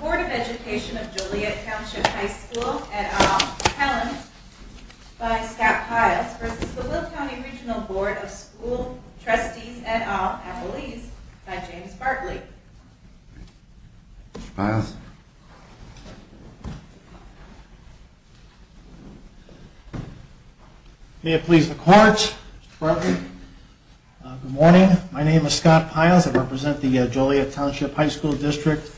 Board of Education of Joliet Township High Schools & Joliet Township High School v. Will County Regional Board of School Trustees & All Accolades Good morning. My name is Scott Piles. I represent the Joliet Township High School District.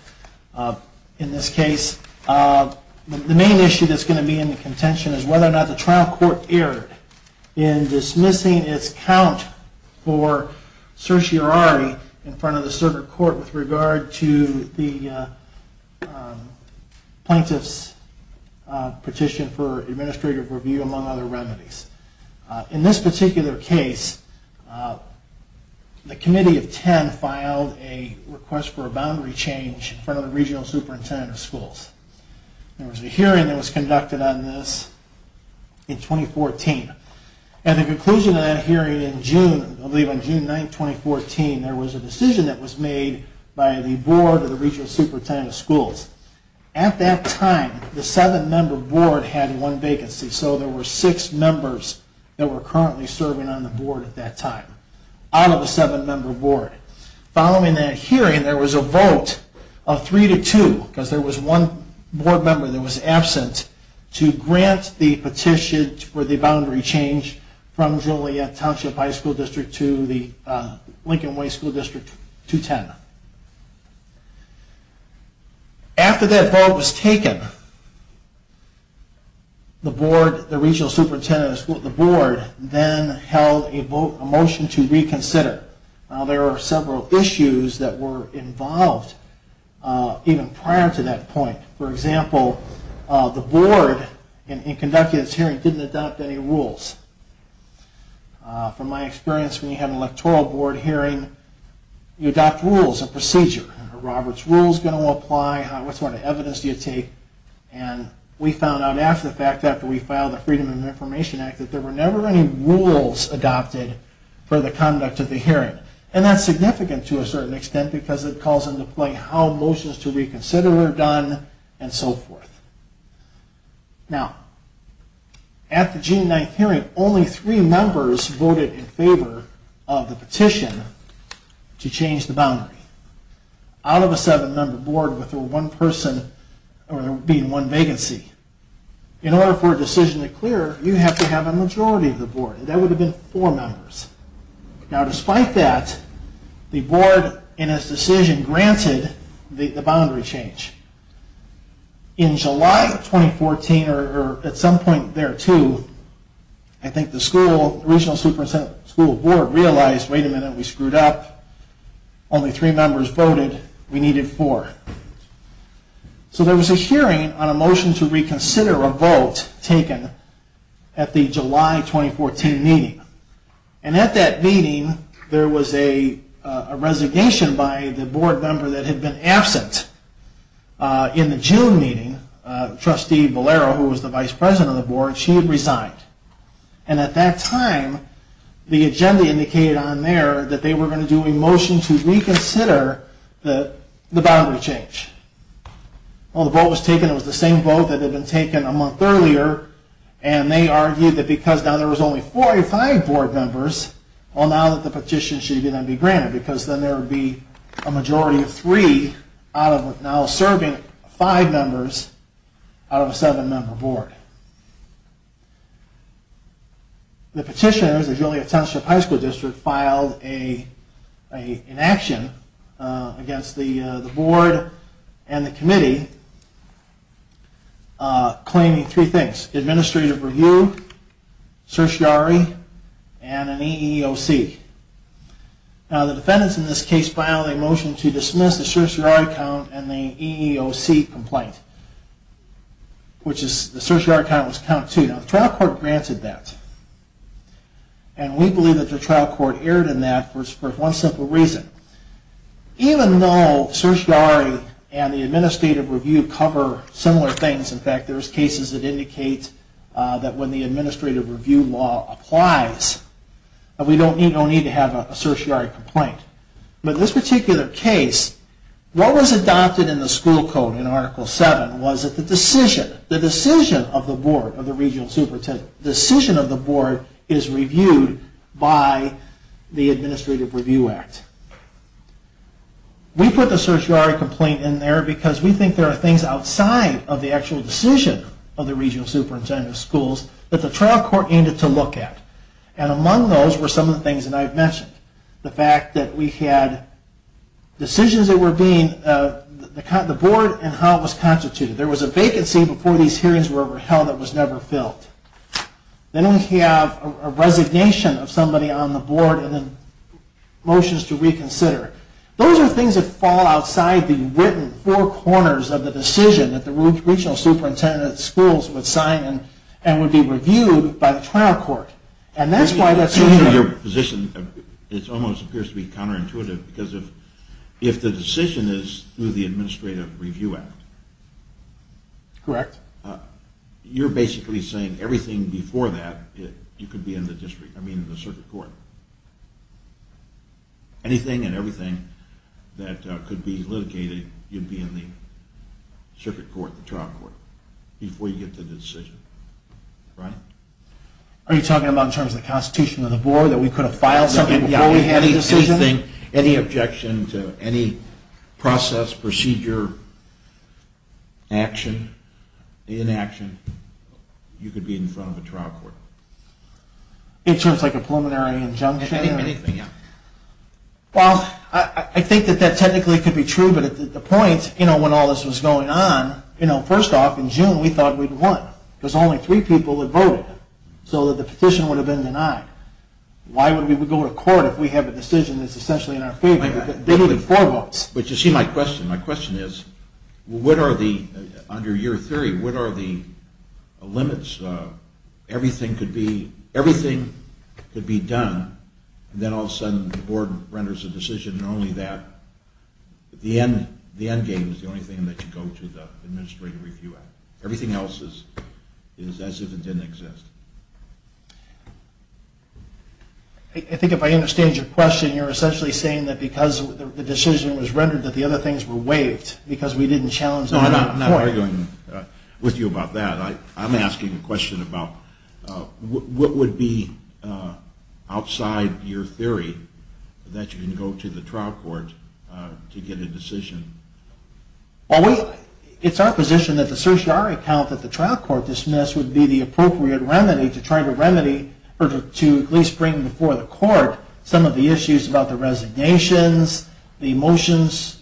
In this case, the main issue that's going to be in the contention is whether or not the trial court erred in dismissing its count for certiorari in front of the circuit court with regard to the plaintiff's petition for administrative review, among other remedies. In this particular case, the committee of 10 filed a request for a boundary change in front of the regional superintendent of schools. There was a hearing that was conducted on this in 2014. At the conclusion of that hearing in June, I believe on June 9, 2014, there was a decision that was made by the board of the regional superintendent of schools. At that time, the seven-member board had one vacancy, so there were six members that were currently serving on the board at that time out of the seven-member board. Following that hearing, there was a vote of three to two, because there was one board member that was absent, to grant the petition for the boundary change from Joliet Township High School District to the Lincoln Way School District 210. After that vote was taken, the board then held a motion to reconsider. There were several issues that were involved even prior to that point. For example, the board, in conducting this hearing, didn't adopt any rules. From my experience, when you have an electoral board hearing, you adopt rules and procedure. Are Robert's rules going to apply? What sort of evidence do you take? And we found out after the fact, after we filed the Freedom of Information Act, that there were never any rules adopted for the conduct of the hearing. And that's significant to a certain extent because it calls into play how motions to reconsider were done and so forth. Now, at the June 9th hearing, only three members voted in favor of the petition to change the boundary out of a seven-member board with one person being one vacancy. In order for a decision to clear, you have to have a majority of the board, and that would have been four members. Now, despite that, the board, in its decision, granted the boundary change. In July 2014, or at some point thereto, I think the school, the regional superintendent school board, realized, wait a minute, we screwed up. Only three members voted. We needed four. So there was a hearing on a motion to reconsider a vote taken at the July 2014 meeting. And at that meeting, there was a resignation by the board member that had been absent in the June meeting, Trustee Valero, who was the vice president of the board. She had resigned. And at that time, the agenda indicated on there that they were going to do a motion to reconsider the boundary change. Well, the vote was taken, it was the same vote that had been taken a month earlier, and they argued that because now there was only four or five board members, well, now that the petition should be granted because then there would be a majority of three out of now serving five members out of a seven-member board. The petitioners, the Julio Township High School District, filed an inaction against the board and the committee, claiming three things. Administrative review, certiorari, and an EEOC. Now, the defendants in this case filed a motion to dismiss the certiorari count and the EEOC complaint, which the certiorari count was counted to. Now, the trial court granted that. And we believe that the trial court erred in that for one simple reason. Even though certiorari and the administrative review cover similar things, in fact, there's cases that indicate that when the administrative review law applies, we don't need to have a certiorari complaint. But in this particular case, what was adopted in the school code in Article 7 was that the decision, the decision of the board, of the regional superintendent, the decision of the board is reviewed by the Administrative Review Act. We put the certiorari complaint in there because we think there are things outside of the actual decision of the regional superintendent of schools that the trial court needed to look at. And among those were some of the things that I've mentioned. The fact that we had decisions that were being, the board and how it was constituted. There was a vacancy before these hearings were held that was never filled. Then we have a resignation of somebody on the board and then motions to reconsider. Those are things that fall outside the written four corners of the decision that the regional superintendent of schools would sign and would be reviewed by the trial court. And that's why that's... It almost appears to be counterintuitive because if the decision is through the Administrative Review Act, you're basically saying everything before that you could be in the district, I mean the circuit court. Anything and everything that could be litigated, you'd be in the circuit court, the trial court before you get to the decision, right? Are you talking about in terms of the constitution of the board that we could have filed something before we had a decision? Any objection to any process, procedure, action, inaction, you could be in front of a trial court. In terms of a preliminary injunction? Anything, yeah. Well, I think that that technically could be true, but at the point when all this was going on, first off, in June we thought we'd won because only three people had voted. So the petition would have been denied. Why would we go to court if we have a decision that's essentially in our favor? But you see my question. My question is, under your theory, what are the limits? Everything could be done, then all of a sudden the board renders a decision and only that the end game is the only thing that you go to the Administrative Review Act. Everything else is as if it didn't exist. I think if I understand your question, you're essentially saying that because the decision was rendered, that the other things were waived because we didn't challenge them. No, I'm not arguing with you about that. I'm asking a question about what would be outside your theory that you can go to the trial court to get a decision? Well, it's our position that the certiorari count that the trial court dismissed would be the appropriate remedy to try to remedy or to at least bring before the court some of the issues about the resignations, the motions,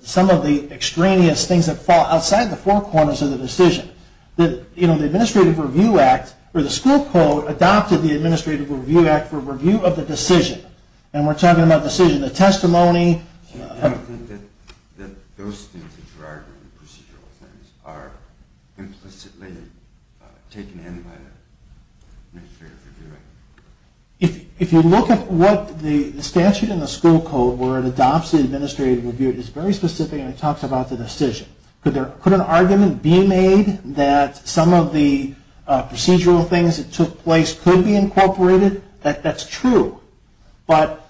some of the extraneous things that fall outside the four corners of the decision. The Administrative Review Act, or the school code, adopted the Administrative Review Act for review of the decision. And we're talking about the decision, the testimony. I don't think that those things that you're arguing, procedural things, are implicitly taken in by the Administrative Review Act. If you look at the statute and the school code where it adopts the Administrative Review Act, it's very specific and it talks about the decision. Could an argument be made that some of the procedural things that took place could be incorporated? That's true. But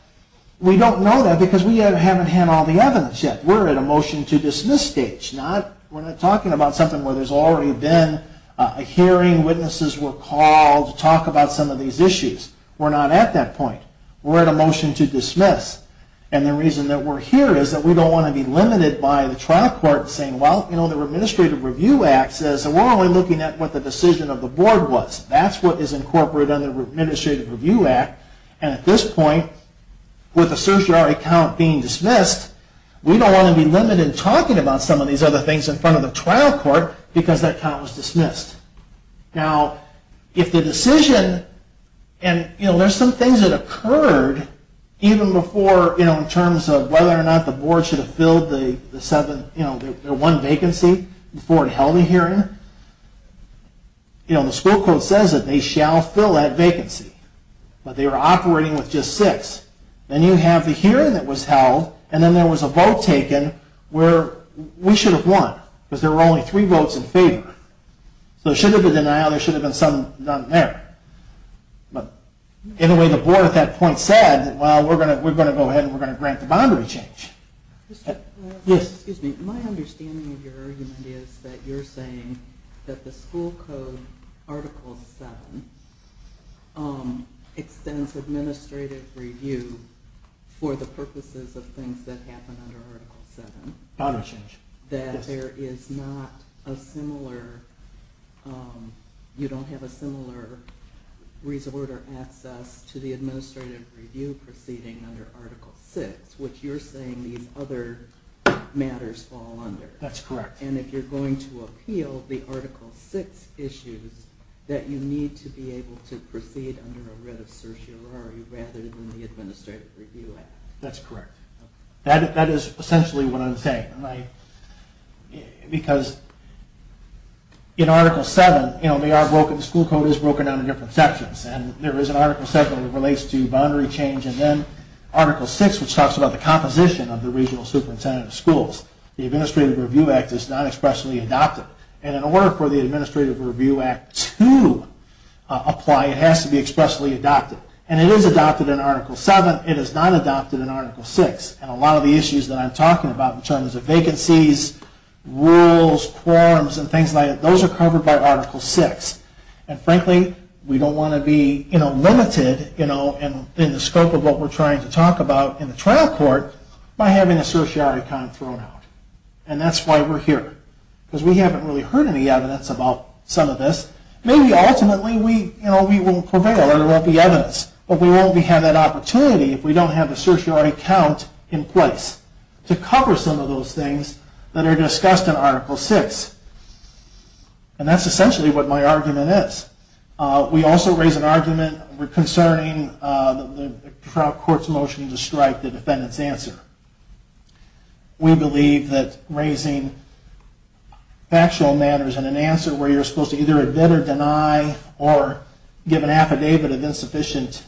we don't know that because we haven't had all the evidence yet. We're at a motion to dismiss stage. We're not talking about something where there's already been a hearing, witnesses were called to talk about some of these issues. We're not at that point. We're at a motion to dismiss. And the reason that we're here is that we don't want to be limited by the trial court saying, well, you know, the Administrative Review Act says we're only looking at what the decision of the board was. That's what is incorporated under the Administrative Review Act. And at this point, with the certiorari count being dismissed, we don't want to be limited in talking about some of these other things in front of the trial court because that count was dismissed. Now, if the decision, and there's some things that occurred even before, in terms of whether or not the board should have filled their one vacancy before it held a hearing. You know, the school code says that they shall fill that vacancy, but they were operating with just six. Then you have the hearing that was held, and then there was a vote taken where we should have won because there were only three votes in favor. So there should have been a denial, there should have been some done there. But anyway, the board at that point said, well, we're going to go ahead and we're going to grant the boundary change. Excuse me. My understanding of your argument is that you're saying that the school code, Article 7, extends administrative review for the purposes of things that happen under Article 7. Boundary change. That there is not a similar, you don't have a similar resort or access to the administrative review proceeding under Article 6, which you're saying these other matters fall under. That's correct. And if you're going to appeal the Article 6 issues, that you need to be able to proceed under a writ of certiorari rather than the administrative review act. That's correct. That is essentially what I'm saying. Because in Article 7, the school code is broken down into different sections. There is an Article 7 that relates to boundary change, and then Article 6, which talks about the composition of the regional superintendent of schools. The administrative review act is not expressly adopted. And in order for the administrative review act to apply, it has to be expressly adopted. And it is adopted in Article 7. It is not adopted in Article 6. And a lot of the issues that I'm talking about in terms of vacancies, rules, quorums, and things like that, those are covered by Article 6. And frankly, we don't want to be limited in the scope of what we're trying to talk about in the trial court by having a certiorari kind of thrown out. And that's why we're here. Because we haven't really heard any evidence about some of this. Maybe ultimately we won't prevail or there won't be evidence. But we won't have that opportunity if we don't have a certiorari count in place to cover some of those things that are discussed in Article 6. And that's essentially what my argument is. We also raise an argument concerning the trial court's motion to strike the defendant's answer. We believe that raising factual matters in an answer where you're supposed to either admit or deny or give an affidavit of insufficient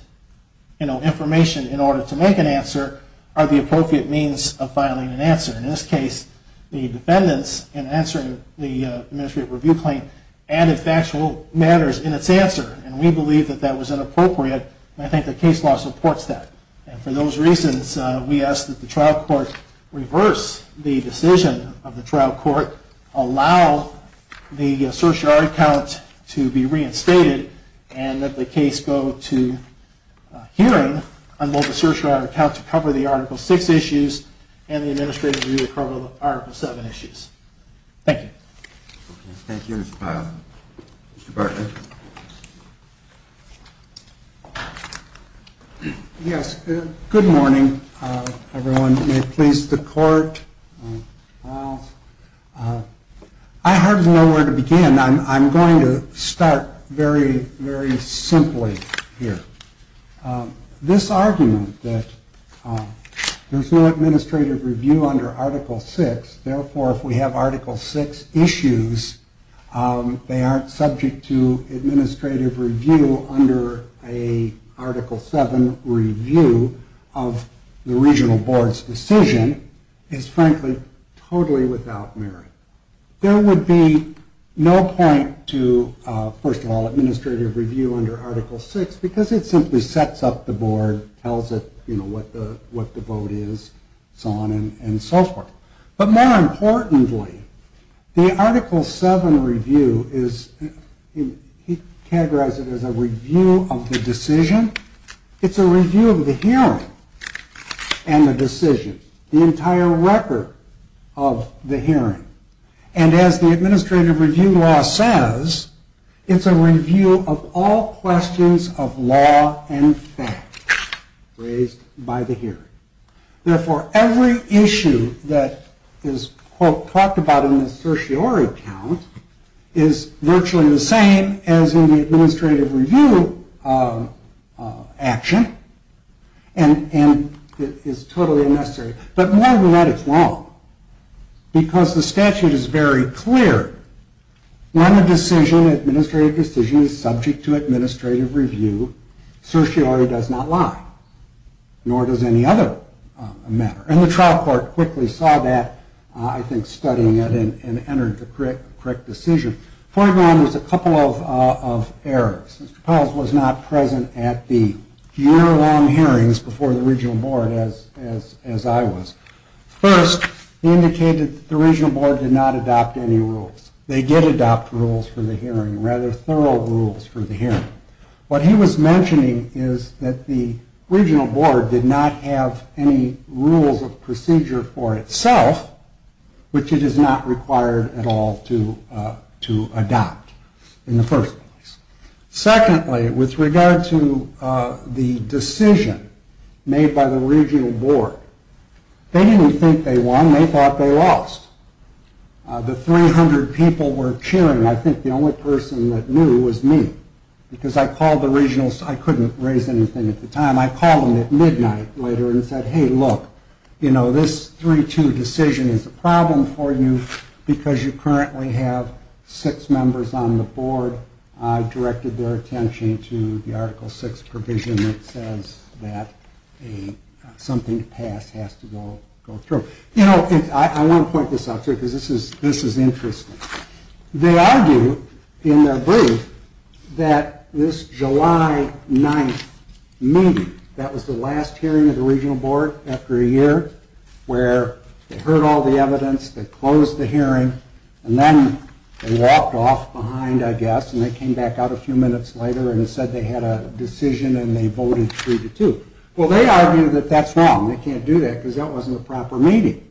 information in order to make an answer are the appropriate means of filing an answer. In this case, the defendants, in answering the administrative review claim, added factual matters in its answer. And we believe that that was inappropriate. And I think the case law supports that. And for those reasons, we ask that the trial court reverse the decision of the trial court, allow the certiorari count to be reinstated, and that the case go to hearing on both the certiorari count to cover the Article 6 issues and the administrative review to cover the Article 7 issues. Thank you. Thank you, Mr. Pyle. Mr. Bartlett? Yes. Good morning, everyone. Please, the court. I hardly know where to begin. I'm going to start very, very simply here. This argument that there's no administrative review under Article 6, therefore if we have Article 6 issues, they aren't subject to administrative review under a Article 7 review of the regional board's decision, is, frankly, totally without merit. There would be no point to, first of all, administrative review under Article 6, because it simply sets up the board, tells it, you know, what the vote is, so on and so forth. But more importantly, the Article 7 review is categorized as a review of the decision. It's a review of the hearing and the decision, the entire record of the hearing. And as the administrative review law says, it's a review of all questions of law and fact raised by the hearing. Therefore, every issue that is, quote, talked about in the certiorari count is virtually the same as in the administrative review action, and it is totally unnecessary. But more than that, it's wrong, because the statute is very clear. When a decision, an administrative decision, is subject to administrative review, certiorari does not lie, nor does any other matter. And the trial court quickly saw that, I think, studying it and entered the correct decision. Fortinon was a couple of errors. Mr. Pelz was not present at the year-long hearings before the regional board, as I was. First, he indicated that the regional board did not adopt any rules. They did adopt rules for the hearing, rather thorough rules for the hearing. What he was mentioning is that the regional board did not have any rules of procedure for itself, which it is not required at all to adopt in the first place. Secondly, with regard to the decision made by the regional board, they didn't think they won. They thought they lost. The 300 people were cheering. I think the only person that knew was me, because I called the regionals. I couldn't raise anything at the time. I called them at midnight later and said, hey, look, you know, this 3-2 decision is a problem for you, because you currently have six members on the board. I directed their attention to the Article VI provision that says that something passed has to go through. You know, I want to point this out, too, because this is interesting. They argue in their brief that this July 9th meeting, that was the last hearing of the regional board after a year, where they heard all the evidence, they closed the hearing, and then they walked off behind, I guess, and they came back out a few minutes later and said they had a decision and they voted 3-2. Well, they argue that that's wrong. They can't do that, because that wasn't a proper meeting.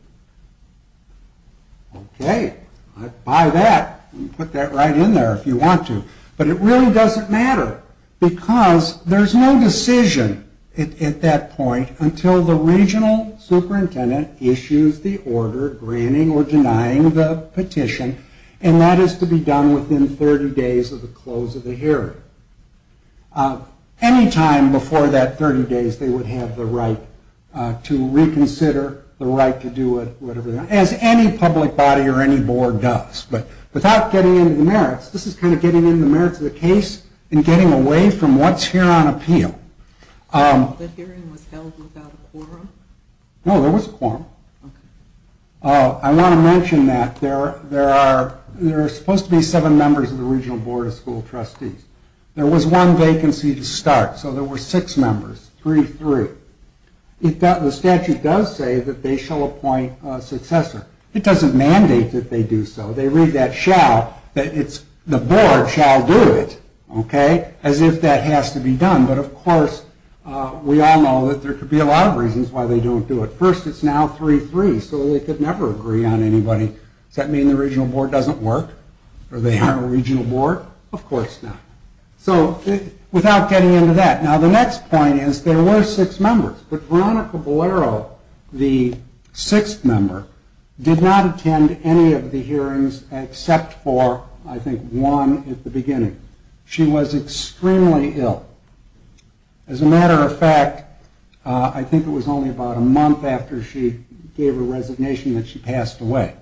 Okay. I buy that. Put that right in there if you want to. But it really doesn't matter, because there's no decision at that point until the regional superintendent issues the order granting or denying the petition, and that is to be done within 30 days of the close of the hearing. Any time before that 30 days, they would have the right to reconsider, the right to do it, as any public body or any board does. But without getting into the merits, this is kind of getting into the merits of the case and getting away from what's here on appeal. The hearing was held without a quorum? No, there was a quorum. I want to mention that there are supposed to be seven members of the regional board of school trustees. There was one vacancy to start, so there were six members, 3-3. The statute does say that they shall appoint a successor. It doesn't mandate that they do so. They read that shall, that it's the board shall do it, okay, as if that has to be done. But, of course, we all know that there could be a lot of reasons why they don't do it. But first it's now 3-3, so they could never agree on anybody. Does that mean the regional board doesn't work? Or they are a regional board? Of course not. So without getting into that. Now the next point is there were six members, but Veronica Bolero, the sixth member, did not attend any of the hearings except for, I think, one at the beginning. She was extremely ill. As a matter of fact, I think it was only about a month after she gave her resignation that she passed away.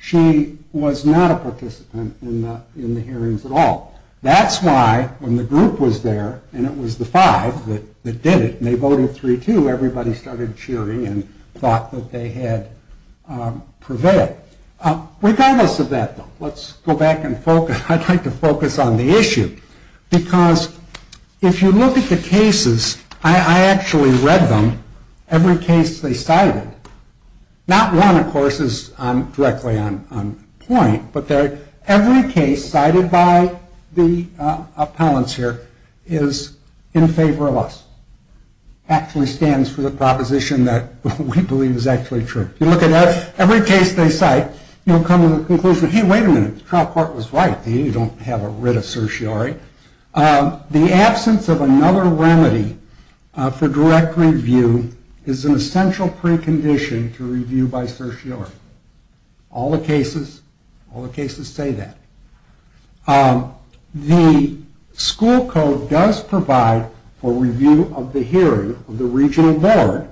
She was not a participant in the hearings at all. That's why when the group was there, and it was the five that did it, and they voted 3-2, everybody started cheering and thought that they had prevented it. Regardless of that, though, let's go back and focus. I'd like to focus on the issue because if you look at the cases, I actually read them, every case they cited. Not one, of course, is directly on point, but every case cited by the appellants here is in favor of us. Actually stands for the proposition that we believe is actually true. You look at every case they cite, you'll come to the conclusion, hey, wait a minute, the trial court was right, they don't have a writ of certiorari. The absence of another remedy for direct review is an essential precondition to review by certiorari. All the cases say that. The school code does provide for review of the hearing of the regional board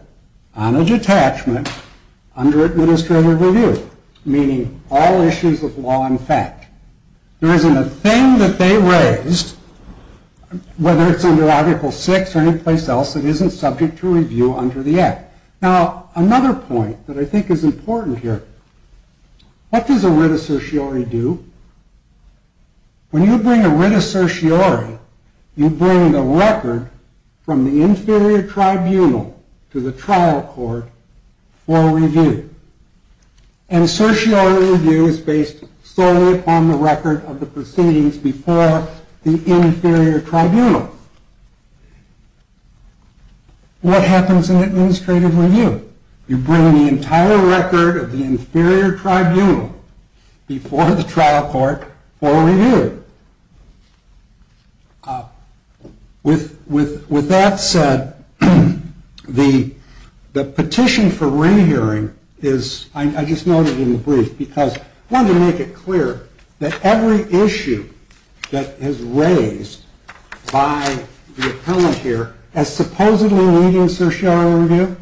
on a detachment under administrative review, meaning all issues of law and fact. There isn't a thing that they raised, whether it's under Article 6 or any place else, that isn't subject to review under the app. Now, another point that I think is important here, what does a writ of certiorari do? When you bring a writ of certiorari, you bring the record from the inferior tribunal to the trial court for review. And certiorari review is based solely upon the record of the proceedings before the inferior tribunal. What happens in administrative review? You bring the entire record of the inferior tribunal before the trial court for review. With that said, the petition for re-hearing is, I just noted in the brief, because I wanted to make it clear that every issue that is raised by the appellant here as supposedly leading certiorari review,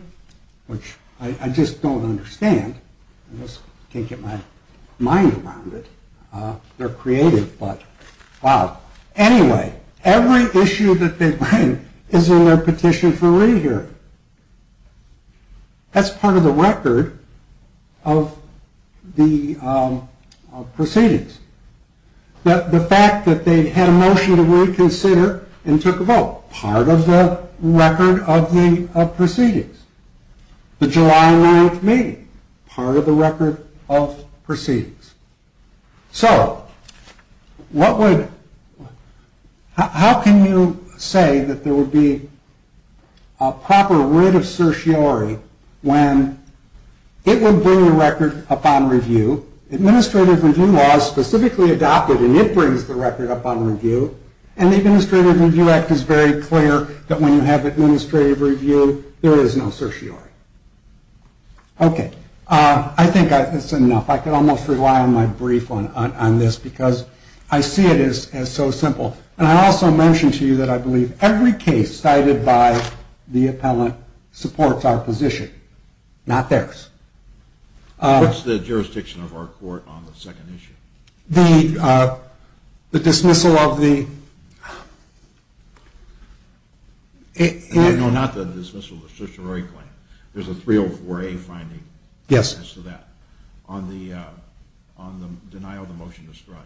which I just don't understand, I just can't get my mind around it, they're creative, but wow. Anyway, every issue that they bring is in their petition for re-hearing. That's part of the record of the proceedings. The fact that they had a motion to reconsider and took a vote, part of the record of the proceedings. The July 9th meeting, part of the record of proceedings. So how can you say that there would be a proper writ of certiorari when it would bring the record upon review? Administrative review law is specifically adopted and it brings the record upon review. And the Administrative Review Act is very clear that when you have administrative review, there is no certiorari. Okay. I think that's enough. I can almost rely on my brief on this because I see it as so simple. And I also mentioned to you that I believe every case cited by the appellant supports our position, not theirs. What's the jurisdiction of our court on the second issue? The dismissal of the... No, not the dismissal of the certiorari claim. There's a 304A finding. Yes. On the denial of the motion to strike.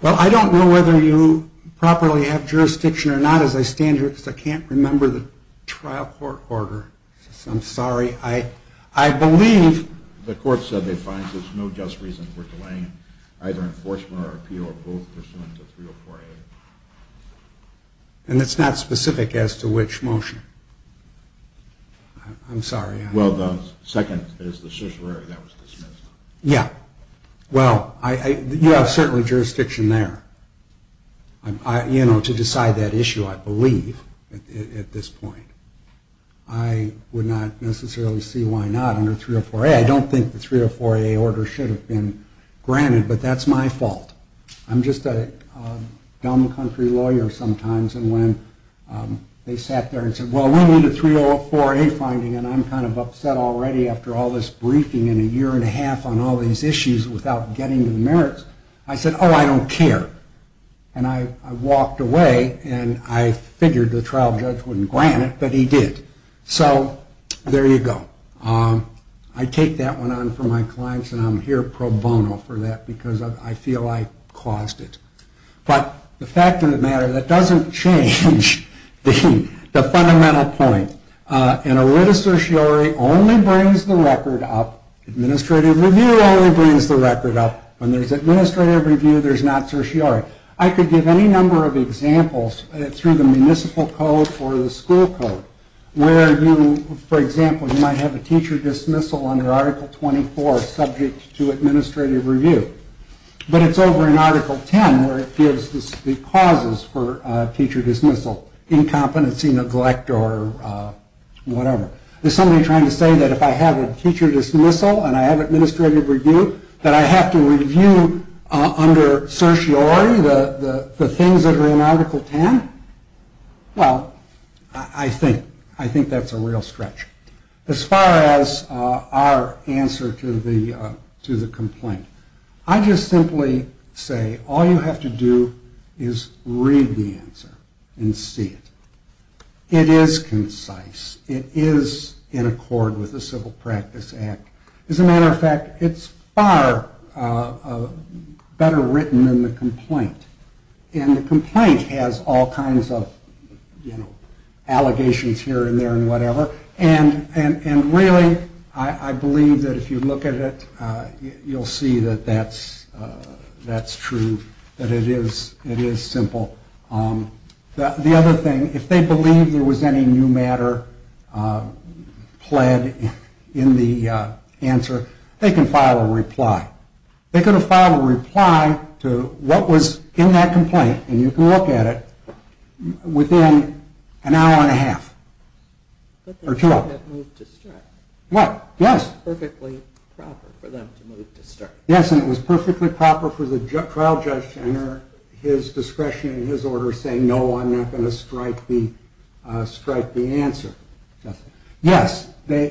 Well, I don't know whether you properly have jurisdiction or not as I stand here. I can't remember the trial court order. I'm sorry. I believe... The court said they find there's no just reason for delaying either enforcement or appeal of both pursuant to 304A. And it's not specific as to which motion? I'm sorry. Well, the second is the certiorari that was dismissed. Yeah. Well, you have certainly jurisdiction there, you know, to decide that issue, I believe, at this point. I would not necessarily see why not under 304A. I don't think the 304A order should have been granted, but that's my fault. I'm just a dumb country lawyer sometimes. And when they sat there and said, well, we need a 304A finding, and I'm kind of upset already after all this briefing in a year and a half on all these issues without getting to the merits. I said, oh, I don't care. And I walked away, and I figured the trial judge wouldn't grant it, but he did. So there you go. I take that one on for my clients, and I'm here pro bono for that because I feel I caused it. But the fact of the matter, that doesn't change the fundamental point. An erita certiorari only brings the record up. Administrative review only brings the record up. When there's administrative review, there's not certiorari. I could give any number of examples through the municipal code or the school code where you, for example, you might have a teacher dismissal under Article 24 subject to administrative review. But it's over in Article 10 where it gives the causes for teacher dismissal, incompetency, neglect, or whatever. Is somebody trying to say that if I have a teacher dismissal and I have administrative review that I have to review under certiorari the things that are in Article 10? Well, I think that's a real stretch. As far as our answer to the complaint, I just simply say all you have to do is read the answer and see it. It is concise. It is in accord with the Civil Practice Act. As a matter of fact, it's far better written than the complaint. And the complaint has all kinds of allegations here and there and whatever. And really, I believe that if you look at it, you'll see that that's true, that it is simple. The other thing, if they believe there was any new matter pled in the answer, they can file a reply. They could have filed a reply to what was in that complaint, and you can look at it, within an hour and a half or two hours. What? Yes. Yes, and it was perfectly proper for the trial judge to enter his discretion and his order saying, no, I'm not going to strike the answer. Yes, they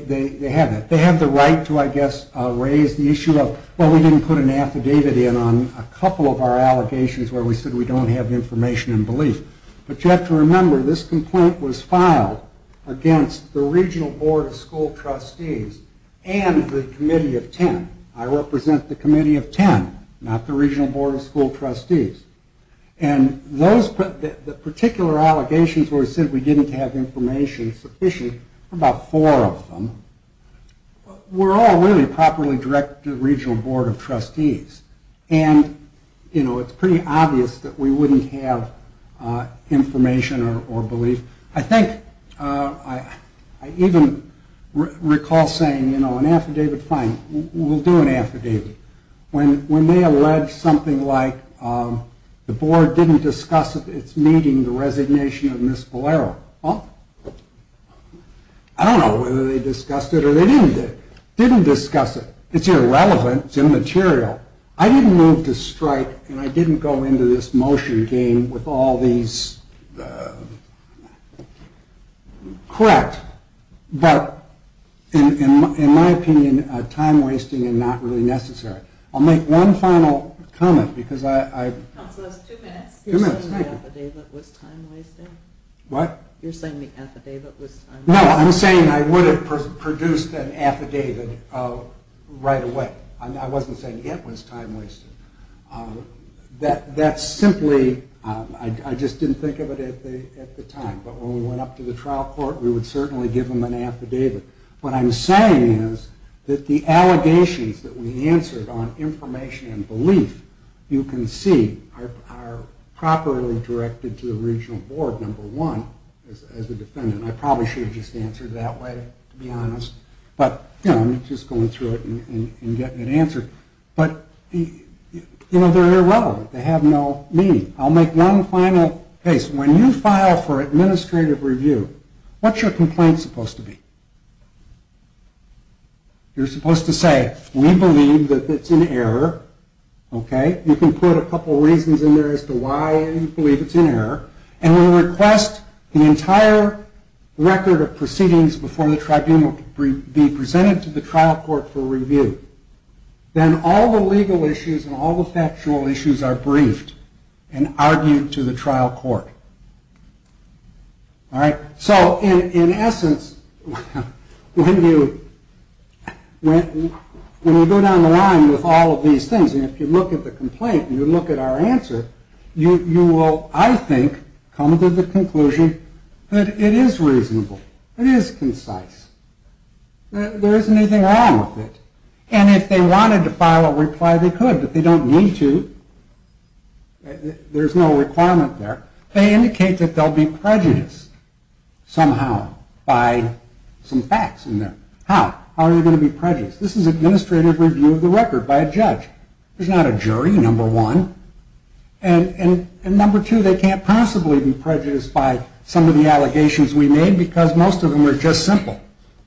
have that. They have the right to, I guess, raise the issue of, well, we didn't put an affidavit in on a couple of our allegations where we said we don't have information and belief. But you have to remember, this complaint was filed against the Regional Board of School Trustees and the Committee of Ten. I represent the Committee of Ten, not the Regional Board of School Trustees. And those particular allegations where we said we didn't have information sufficient, about four of them, were all really properly directed to the Regional Board of Trustees. And, you know, it's pretty obvious that we wouldn't have information or belief. I think, I even recall saying, you know, an affidavit, fine, we'll do an affidavit. When they allege something like the board didn't discuss its meeting, the resignation of Ms. Valero, I don't know whether they discussed it or they didn't discuss it. It's irrelevant, it's immaterial. I didn't move to strike and I didn't go into this motion game with all these... Correct. But, in my opinion, time-wasting is not really necessary. I'll make one final comment because I... Two minutes. You're saying the affidavit was time-wasting? What? You're saying the affidavit was time-wasting? No, I'm saying I would have produced an affidavit right away. I wasn't saying it was time-wasting. That's simply... I just didn't think of it at the time. But when we went up to the trial court, we would certainly give them an affidavit. What I'm saying is that the allegations that we answered on information and belief, you can see, are properly directed to the Regional Board, number one, as a defendant. I probably should have just answered that way, to be honest. But, you know, I'm just going through it and getting it answered. But, you know, they're irrelevant. They have no meaning. I'll make one final case. When you file for administrative review, what's your complaint supposed to be? You're supposed to say, we believe that it's an error, okay? You can put a couple reasons in there as to why you believe it's an error. And we request the entire record of proceedings before the tribunal be presented to the trial court for review. Then all the legal issues and all the factual issues are briefed and argued to the trial court. All right? So, in essence, when you go down the line with all of these things, and if you look at the complaint and you look at our answer, you will, I think, come to the conclusion that it is reasonable. It is concise. There isn't anything wrong with it. And if they wanted to file a reply, they could, but they don't need to. There's no requirement there. They indicate that they'll be prejudiced somehow by some facts in there. How? How are they going to be prejudiced? This is administrative review of the record by a judge. There's not a jury, number one. And number two, they can't possibly be prejudiced by some of the allegations we made because most of them are just simple.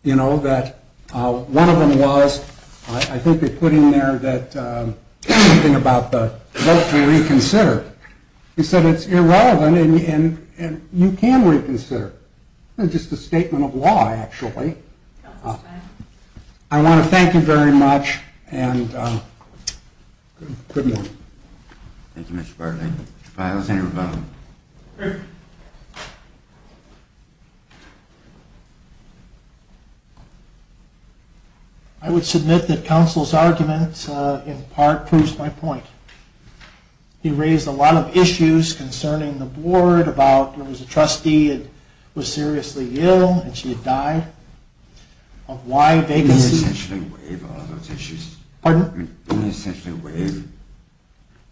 You know, that one of them was, I think they put in there that anything about the vote to reconsider. They said it's irrelevant and you can reconsider. It's just a statement of law, actually. I want to thank you very much and good night. Thank you, Mr. Bartlett. Files and revoked. I would submit that counsel's argument, in part, proves my point. He raised a lot of issues concerning the board, about there was a trustee that was seriously ill and she had died. Why they... Didn't he essentially waive all those issues? Pardon? Didn't he essentially waive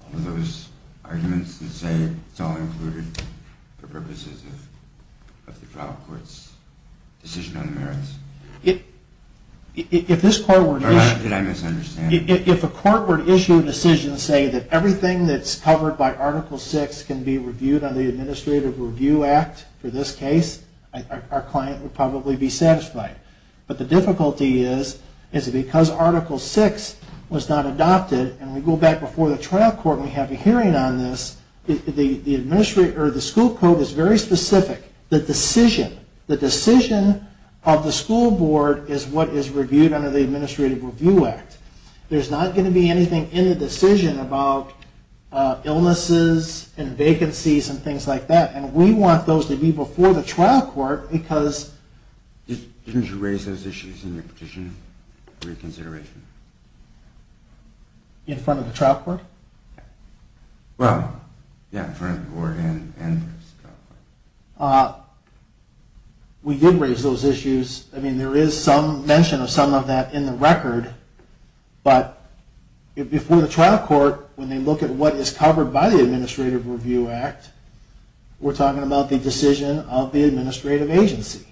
all those arguments that say it's all included for purposes of the trial court's decision on the merits? If this court were to issue... Or did I misunderstand? If a court were to issue a decision saying that everything that's covered by Article VI can be reviewed under the Administrative Review Act, for this case, our client would probably be satisfied. But the difficulty is, is because Article VI was not adopted and we go back before the trial court and we have a hearing on this, the school code is very specific. The decision of the school board is what is reviewed under the Administrative Review Act. There's not going to be anything in the decision about illnesses and vacancies and things like that. And we want those to be before the trial court because... Didn't you raise those issues in your petition for reconsideration? In front of the trial court? Well, yeah, in front of the board and the trial court. We did raise those issues. I mean, there is some mention of some of that in the record. But before the trial court, when they look at what is covered by the Administrative Review Act, we're talking about the decision of the administrative agency.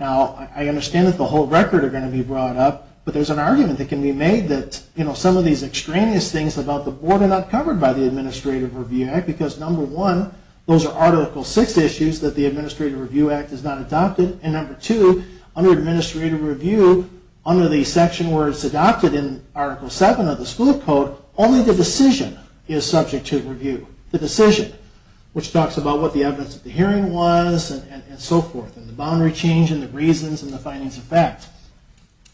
Now, I understand that the whole record are going to be brought up, but there's an argument that can be made that, you know, some of these extraneous things about the board are not covered by the Administrative Review Act because, number one, those are Article VI issues that the Administrative Review Act has not adopted. And number two, under Administrative Review, under the section where it's adopted in Article VII of the school code, only the decision is subject to review. The decision, which talks about what the evidence of the hearing was and so forth, and the boundary change and the reasons and the findings of fact.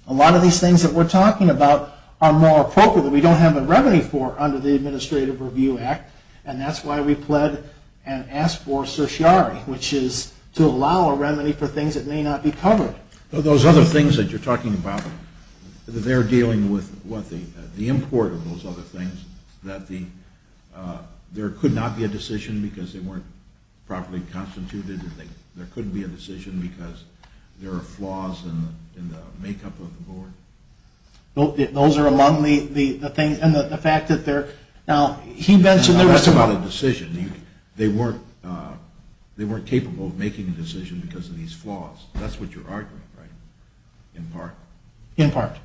A lot of these things that we're talking about are more appropriate. We don't have a remedy for under the Administrative Review Act, and that's why we pled and asked for certiorari, which is to allow a remedy for things that may not be covered. Those other things that you're talking about, they're dealing with what? The import of those other things, that there could not be a decision because they weren't properly constituted, that there couldn't be a decision because there are flaws in the makeup of the board. Those are among the things, and the fact that they're... Now, that's not a decision. They weren't capable of making a decision because of these flaws. That's what you're arguing, right? In part. In part.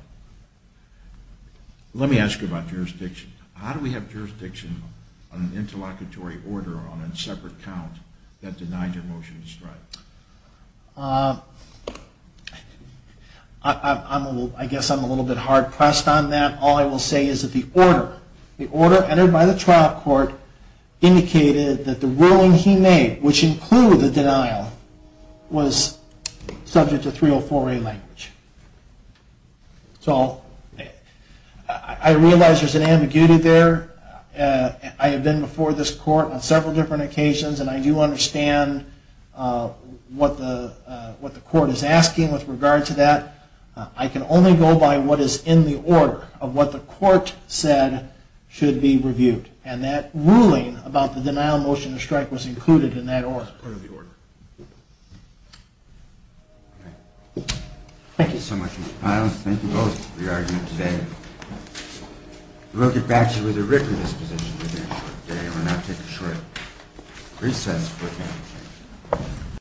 Let me ask you about jurisdiction. How do we have jurisdiction on an interlocutory order on a separate count that denied your motion to strike? I guess I'm a little bit hard-pressed on that. All I will say is that the order, the order entered by the trial court, indicated that the ruling he made, which included the denial, was subject to 304A language. So I realize there's an ambiguity there. I have been before this court on several different occasions, and I do understand what the court is asking with regard to that. I can only go by what is in the order of what the court said should be reviewed, and that ruling about the denial motion to strike was included in that order. Part of the order. Okay. Thank you so much, Mr. Pyle. Thank you both for your argument today. We'll get back to you with a written disposition within a short period. We'll now take a short recess.